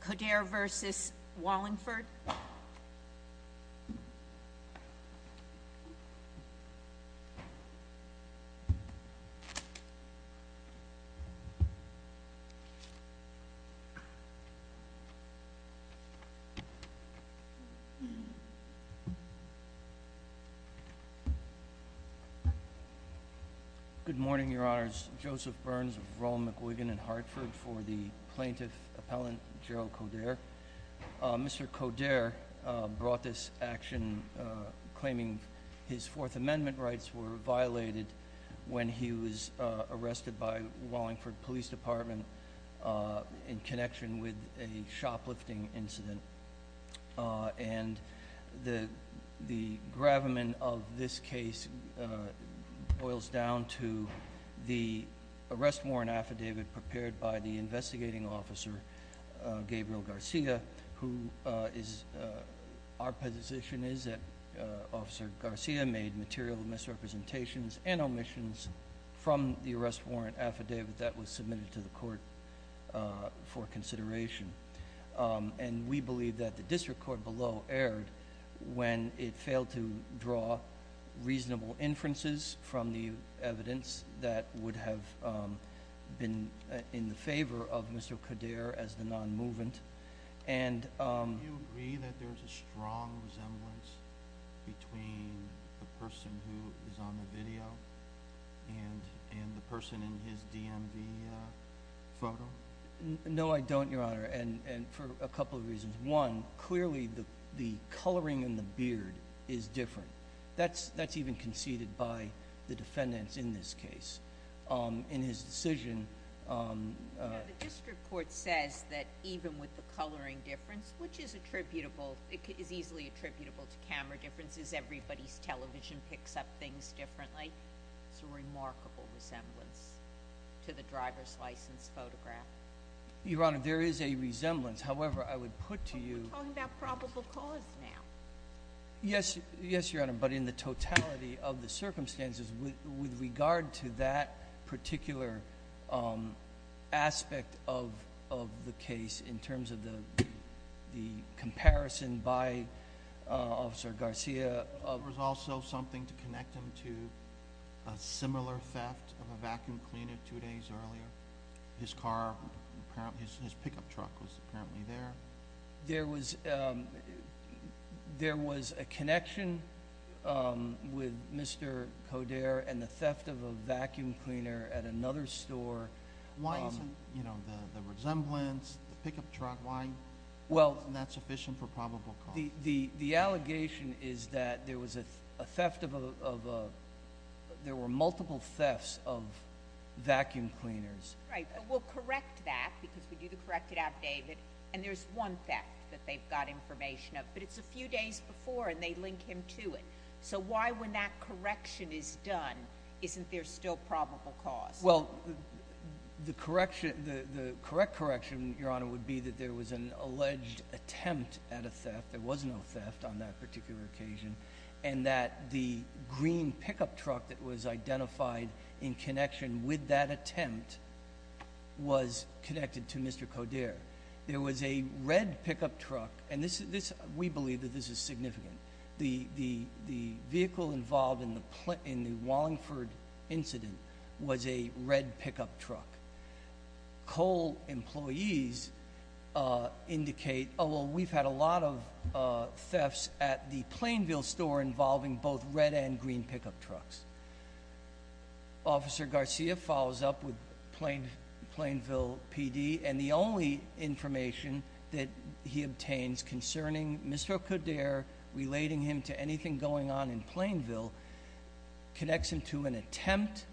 Coderre v. Wallinford Good morning, Your Honors. Joseph Burns of Roll, McGuigan & Hartford for the Gerald Coderre. Mr. Coderre brought this action claiming his Fourth Amendment rights were violated when he was arrested by Wallingford Police Department in connection with a shoplifting incident. And the gravamen of this case boils down to the arrest warrant affidavit prepared by the investigating officer, Gabriel Garcia. Our position is that Officer Garcia made material misrepresentations and omissions from the arrest warrant affidavit that was submitted to the court for consideration. And we believe that the District Court below erred when it failed to draw reasonable inferences from the evidence that would have been in the favor of Mr. Coderre as the non-movement. Do you agree that there's a strong resemblance between the person who is on the video and the person in his DMV photo? No, I don't, Your Honor, and for a couple of reasons. One, clearly the coloring in the beard is different. That's even conceded by the defendants in this case. In his decision... The District Court says that even with the coloring difference, which is attributable, it is easily attributable to camera differences, everybody's television picks up things differently. It's a remarkable resemblance to the driver's license photograph. Your Honor, there is a resemblance. However, I would put to you... We're talking about probable cause now. Yes, Your Honor, but in the totality of the circumstances with regard to that particular aspect of the case in terms of the comparison by Officer Garcia... There was also something to connect him to a similar theft of a vacuum cleaner two days earlier. His car, his pickup truck was apparently there. There was a connection with Mr. Coderre and the theft of a vacuum cleaner at another store. Why isn't, you know, the resemblance, the pickup truck, why isn't that sufficient for probable cause? The allegation is that there was a theft of a... there were multiple thefts of vacuum cleaners. You pointed out, David, and there's one theft that they've got information of, but it's a few days before and they link him to it. So why, when that correction is done, isn't there still probable cause? Well, the correction, the correct correction, Your Honor, would be that there was an alleged attempt at a theft. There was no theft on that particular occasion and that the green pickup truck that was identified in connection with that attempt was connected to Mr. Coderre. There was a red pickup truck and this, we believe that this is significant. The vehicle involved in the Wallingford incident was a red pickup truck. COLE employees indicate, oh well, we've had a lot of thefts at the Plainville store involving both red and Plainville PD, and the only information that he obtains concerning Mr. Coderre relating him to anything going on in Plainville connects him to an attempt,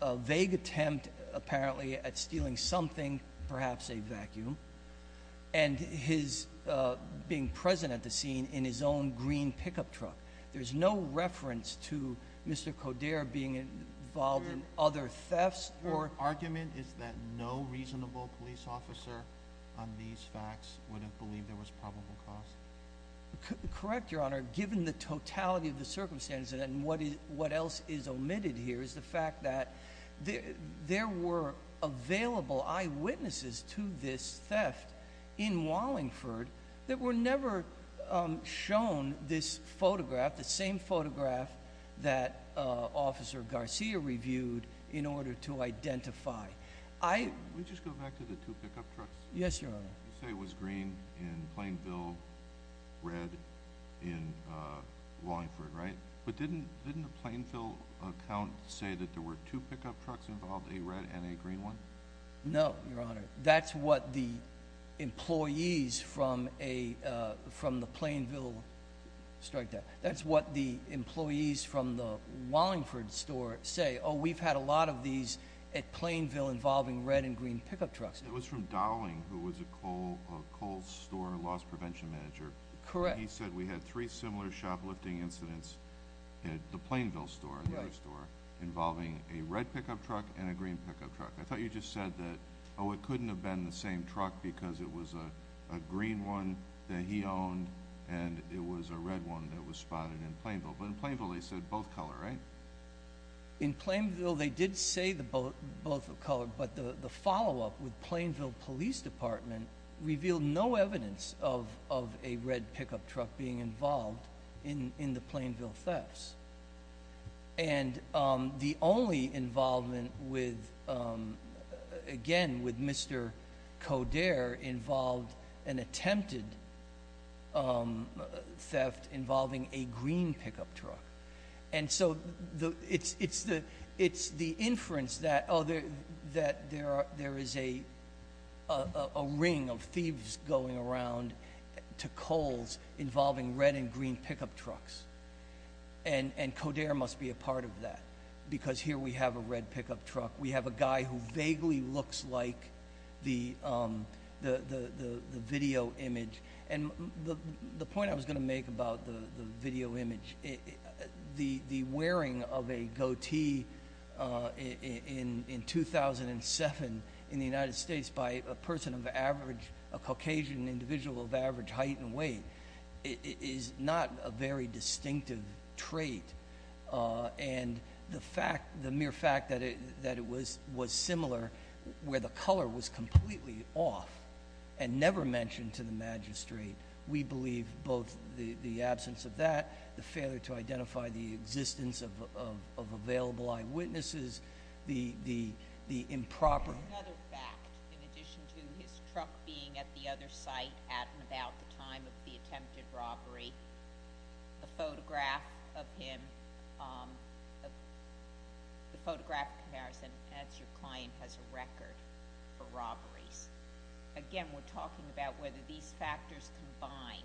a vague attempt, apparently, at stealing something, perhaps a vacuum, and his being present at the scene in his own green pickup truck. There's no reference to that no reasonable police officer on these facts would have believed there was probable cause. Correct, Your Honor, given the totality of the circumstances and what else is omitted here is the fact that there were available eyewitnesses to this theft in Wallingford that were never shown this photograph, the same photograph that Officer Garcia reviewed in order to identify. Can we just go back to the two pickup trucks? Yes, Your Honor. You say it was green in Plainville, red in Wallingford, right? But didn't the Plainville account say that there were two pickup trucks involved, a red and a green one? No, Your Honor. That's what the employees from the Plainville strike said. They said they had a lot of these at Plainville involving red and green pickup trucks. It was from Dowling, who was a Kohl's store loss prevention manager. Correct. He said we had three similar shoplifting incidents at the Plainville store, the store involving a red pickup truck and a green pickup truck. I thought you just said that, oh, it couldn't have been the same truck because it was a green one that he owned and it was a red one that was spotted in Plainville. But in Plainville they said both color, right? In Plainville they did say the both of color, but the the follow-up with Plainville Police Department revealed no evidence of a red pickup truck being involved in the Plainville thefts. And the only involvement with, again, with Mr. Coderre involved an attempted theft involving a green pickup truck. And so the it's it's the it's the inference that other that there are there is a a ring of thieves going around to Kohl's involving red and green pickup trucks. And and Coderre must be a part of that because here we have a red pickup truck. We have a guy who vaguely looks like the the video image. And the point I was going to make about the video image, the wearing of a goatee in 2007 in the United States by a person of average, a Caucasian individual of average height and weight, is not a very distinctive trait. And the fact, the mere fact, that it that it was was similar where the color was completely off and never mentioned to the magistrate, we believe both the the absence of that, the failure to identify the existence of available eyewitnesses, the the the improper... Another fact, in addition to his truck being at the other site at and about the time of the attempted robbery, the photograph of him, the photograph comparison, as your client has a record for robberies. Again, we're talking about whether these factors combine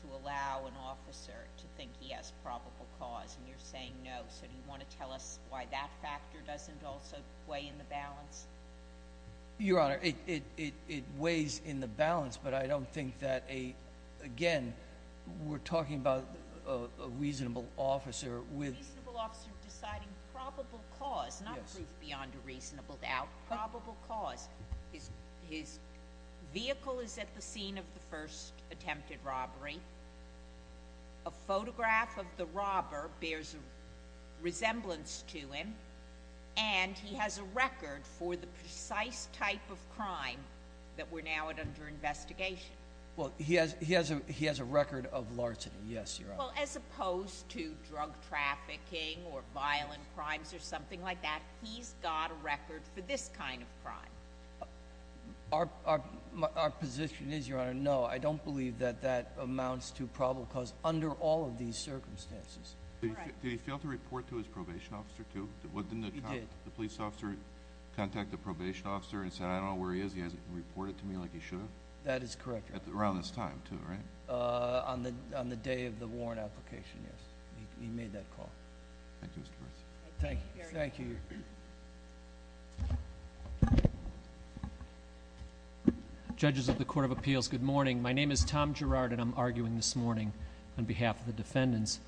to allow an officer to think he has probable cause. And you're saying no. So do you want to tell us why that factor doesn't also weigh in the balance? Your Honor, it it it weighs in the balance, but I don't think that a, again, we're talking about a reasonable officer with... A reasonable officer deciding probable cause, not proof beyond a reasonable doubt. Probable cause. His vehicle is at the scene of the first attempted robbery. A photograph of the robber bears a resemblance to him and he has a record for the precise type of crime that we're now at under investigation. Well, he has he has a he has a record of larceny. Yes, Your Honor. Well, as opposed to drug trafficking or violent crimes or something like that, he's got a record for this kind of crime. Our position is, Your Honor, no, I don't believe that that amounts to probable cause under all of these circumstances. Did he fail to report to his probation officer, too? He did. Didn't the police officer contact the probation officer and say, I don't know where he is, he hasn't reported to me like he should have? That is correct. Around this time, too, right? On the day of the warrant application, yes. He made that call. Thank you, Mr. Brice. Thank you. Judges of the Court of Appeals, good morning. My name is Tom Gerard and I'm arguing this morning on behalf of the defendants.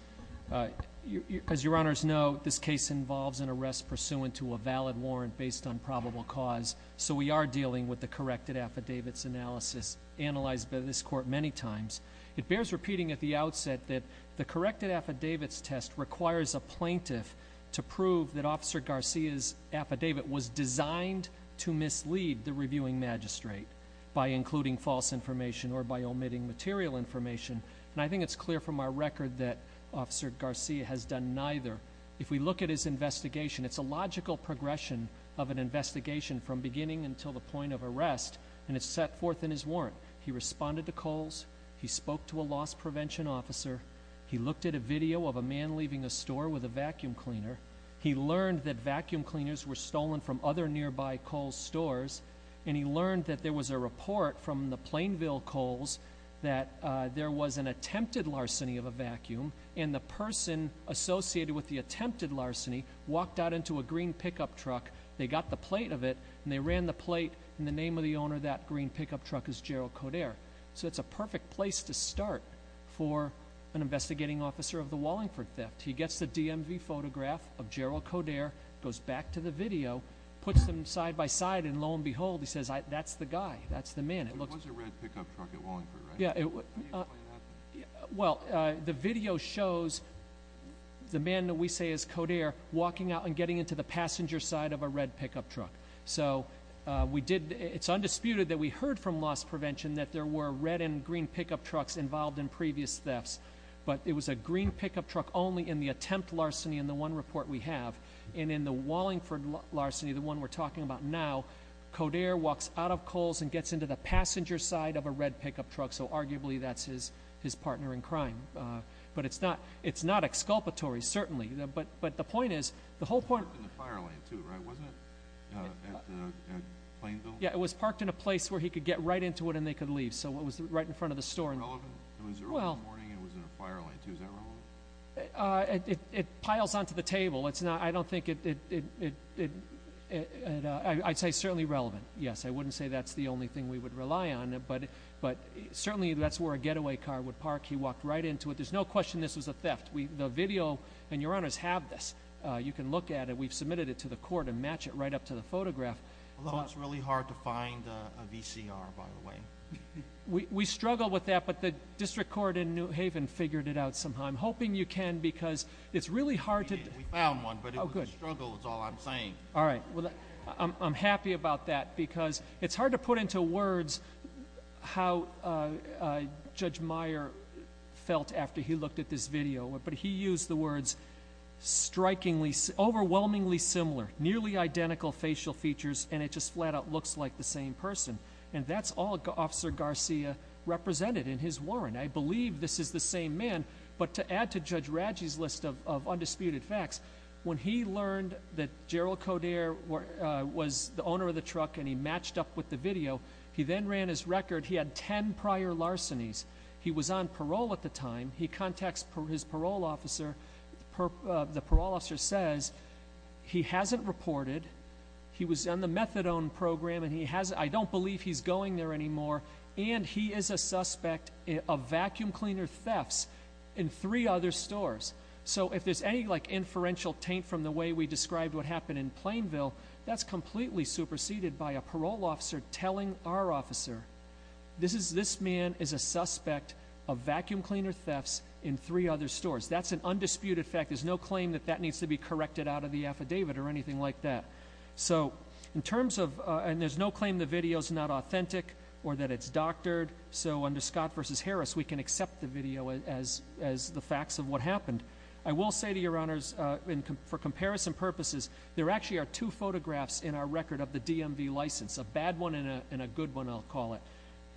As Your Honors know, this case involves an arrest pursuant to a valid warrant based on probable cause, so we are dealing with the corrected affidavits analysis analyzed by this court many times. It bears repeating at the outset that the corrected affidavits test requires a plaintiff to prove that Officer Garcia's affidavit was designed to mislead the reviewing magistrate by including false information or by omitting material information. And I think it's clear from our record that Officer Garcia has done neither. If we look at his investigation, it's a logical progression of an investigation from beginning until the point of arrest, and it's set forth in his warrant. He responded to Kohl's, he spoke to a loss prevention officer, he looked at a video of a man leaving a store with a vacuum cleaner, he learned that vacuum cleaners were stolen from other nearby Kohl's stores, and he learned that there was a report from the Plainville Kohl's that there was an attempted larceny of a vacuum, and the person associated with the attempted larceny walked out into a green pickup truck, they got the plate of it, and they ran the plate, and the name of the owner of that green pickup truck is Gerald Coderre. So it's a perfect place to start for an investigating officer of the Wallingford theft. He gets the DMV photograph of Gerald Coderre, goes back to the video, puts them side by side, and lo and behold, he says, that's the guy, that's the man. It was a red pickup truck at Wallingford, right? Well, the video shows the man that we say is Coderre walking out and getting into the passenger side of a red pickup truck. So it's undisputed that we heard from loss prevention that there were red and green pickup trucks involved in previous thefts, but it was a green pickup truck only in the attempt larceny in the one report we have, and in the Wallingford larceny, the one we're talking about now, Coderre walks out of Kohl's and gets into the passenger side of a red pickup truck, so arguably that's his partner in crime. But it's not exculpatory, certainly, but the point is, the whole point— It was parked in the fire lane, too, right? Wasn't it at Plainville? Yeah, it was parked in a place where he could get right into it and they could leave, so it was right in front of the store. Was it relevant? It was early in the morning and it was in a fire lane, too. Is that relevant? It piles onto the table. I don't think it—I'd say it's certainly relevant, yes. I wouldn't say that's the only thing we would rely on, but certainly that's where a getaway car would park. He walked right into it. There's no question this was a theft. The video—and Your Honors have this. You can look at it. We've submitted it to the court and match it right up to the photograph. Although it's really hard to find a VCR, by the way. We struggle with that, but the district court in New Haven figured it out somehow. I'm hoping you can because it's really hard to— We found one, but it was a struggle is all I'm saying. All right. I'm happy about that because it's hard to put into words how Judge Meyer felt after he looked at this video, but he used the words, strikingly—overwhelmingly similar, nearly identical facial features, and it just flat out looks like the same person, and that's all Officer Garcia represented in his warrant. I believe this is the same man, but to add to Judge Radji's list of undisputed facts, when he learned that Gerald Coderre was the owner of the truck and he matched up with the video, he then ran his record. He had ten prior larcenies. He was on parole at the time. He contacts his parole officer. The parole officer says he hasn't reported. He was on the methadone program, and he hasn't— I don't believe he's going there anymore, and he is a suspect of vacuum cleaner thefts in three other stores. So if there's any, like, inferential taint from the way we described what happened in Plainville, that's completely superseded by a parole officer telling our officer, this man is a suspect of vacuum cleaner thefts in three other stores. That's an undisputed fact. There's no claim that that needs to be corrected out of the affidavit or anything like that. So in terms of—and there's no claim the video's not authentic or that it's doctored, so under Scott v. Harris, we can accept the video as the facts of what happened. I will say to your honors, for comparison purposes, there actually are two photographs in our record of the DMV license, a bad one and a good one, I'll call it.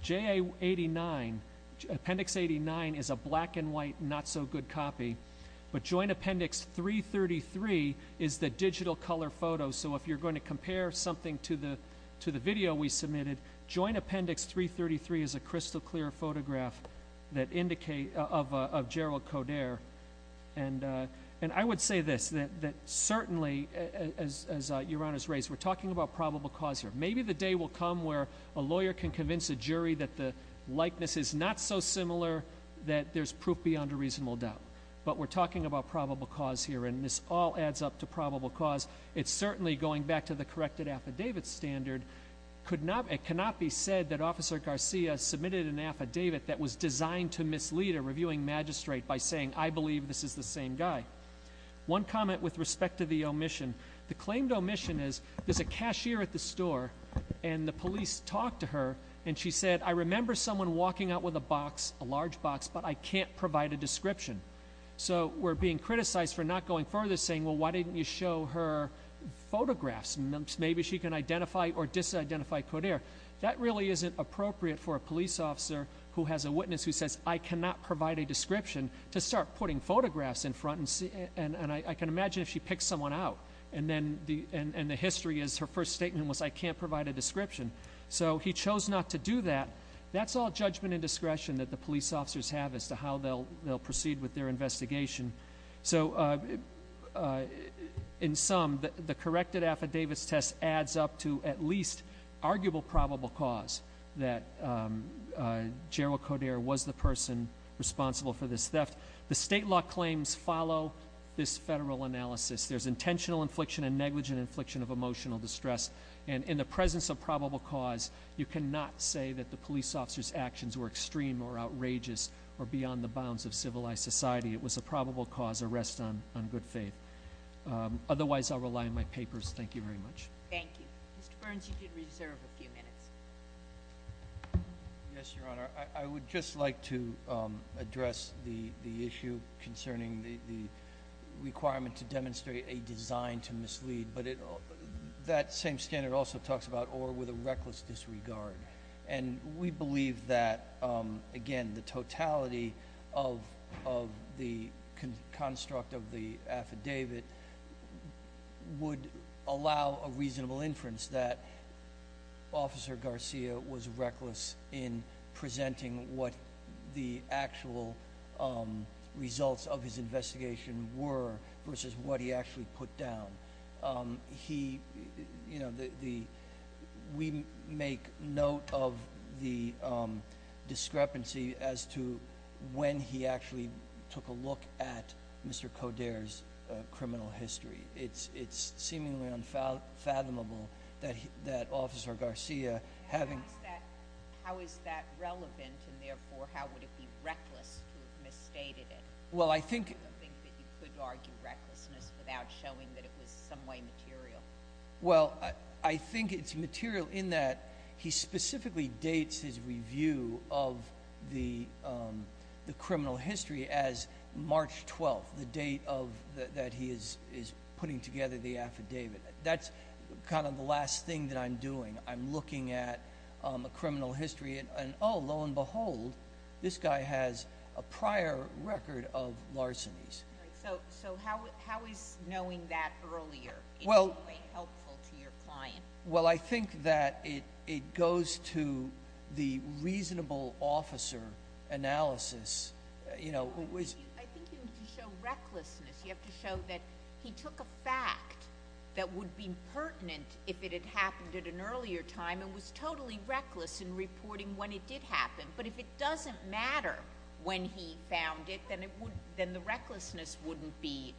J.A. 89, Appendix 89, is a black-and-white, not-so-good copy, but Joint Appendix 333 is the digital color photo. Joint Appendix 333 is a crystal-clear photograph of Gerald Coderre. And I would say this, that certainly, as your honors raised, we're talking about probable cause here. Maybe the day will come where a lawyer can convince a jury that the likeness is not so similar that there's proof beyond a reasonable doubt. But we're talking about probable cause here, and this all adds up to probable cause. It's certainly, going back to the corrected affidavit standard, it cannot be said that Officer Garcia submitted an affidavit that was designed to mislead a reviewing magistrate by saying, I believe this is the same guy. One comment with respect to the omission. The claimed omission is there's a cashier at the store, and the police talked to her, and she said, I remember someone walking out with a box, a large box, but I can't provide a description. So we're being criticized for not going further, saying, well, why didn't you show her photographs? Maybe she can identify or disidentify Coderre. That really isn't appropriate for a police officer who has a witness who says, I cannot provide a description to start putting photographs in front, and I can imagine if she picks someone out, and the history is her first statement was, I can't provide a description. So he chose not to do that. That's all judgment and discretion that the police officers have as to how they'll proceed with their investigation. So in sum, the corrected affidavits test adds up to at least arguable probable cause that Gerald Coderre was the person responsible for this theft. The state law claims follow this federal analysis. There's intentional infliction and negligent infliction of emotional distress. And in the presence of probable cause, you cannot say that the police officer's actions were extreme or outrageous or beyond the bounds of civilized society. It was a probable cause, a rest on good faith. Otherwise, I'll rely on my papers. Thank you very much. Thank you. Mr. Burns, you did reserve a few minutes. Yes, Your Honor. I would just like to address the issue concerning the requirement to demonstrate a design to mislead. But that same standard also talks about or with a reckless disregard. And we believe that, again, the totality of the construct of the affidavit would allow a reasonable inference that Officer Garcia was reckless in presenting what the actual results of his investigation were versus what he actually put down. We make note of the discrepancy as to when he actually took a look at Mr. Coderre's criminal history. It's seemingly unfathomable that Officer Garcia, having— How is that relevant? And therefore, how would it be reckless to have misstated it? Well, I think— I don't think that you could argue recklessness without showing that it was in some way material. Well, I think it's material in that he specifically dates his review of the criminal history as March 12th, the date that he is putting together the affidavit. That's kind of the last thing that I'm doing. I'm looking at a criminal history and, oh, lo and behold, this guy has a prior record of larcenies. So how is knowing that earlier in some way helpful to your client? Well, I think that it goes to the reasonable officer analysis. I think you need to show recklessness. You have to show that he took a fact that would be pertinent if it had happened at an earlier time and was totally reckless in reporting when it did happen. But if it doesn't matter when he found it, then the recklessness wouldn't be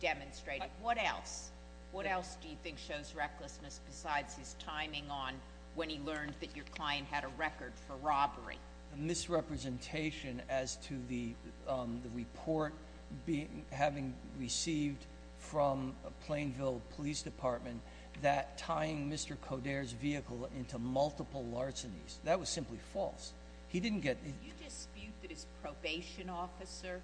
demonstrated. What else? What else do you think shows recklessness besides his timing on when he learned that your client had a record for robbery? A misrepresentation as to the report having received from Plainville Police Department that tying Mr. Coderre's vehicle into multiple larcenies. That was simply false. He didn't get it. Do you dispute that his probation officer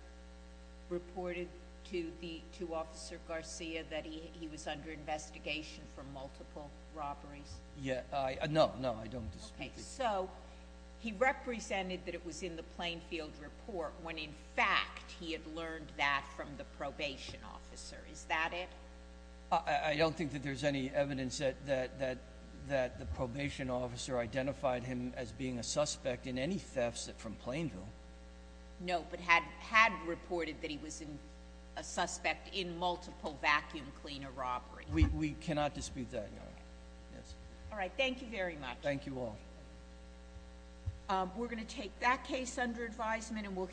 reported to Officer Garcia that he was under investigation for multiple robberies? No, no, I don't dispute it. Okay, so he represented that it was in the Plainfield report when in fact he had learned that from the probation officer. Is that it? I don't think that there's any evidence that the probation officer identified him as being a suspect in any thefts from Plainville. No, but had reported that he was a suspect in multiple vacuum cleaner robberies. We cannot dispute that, no. All right, thank you very much. Thank you all. We're going to take that case under advisement and we'll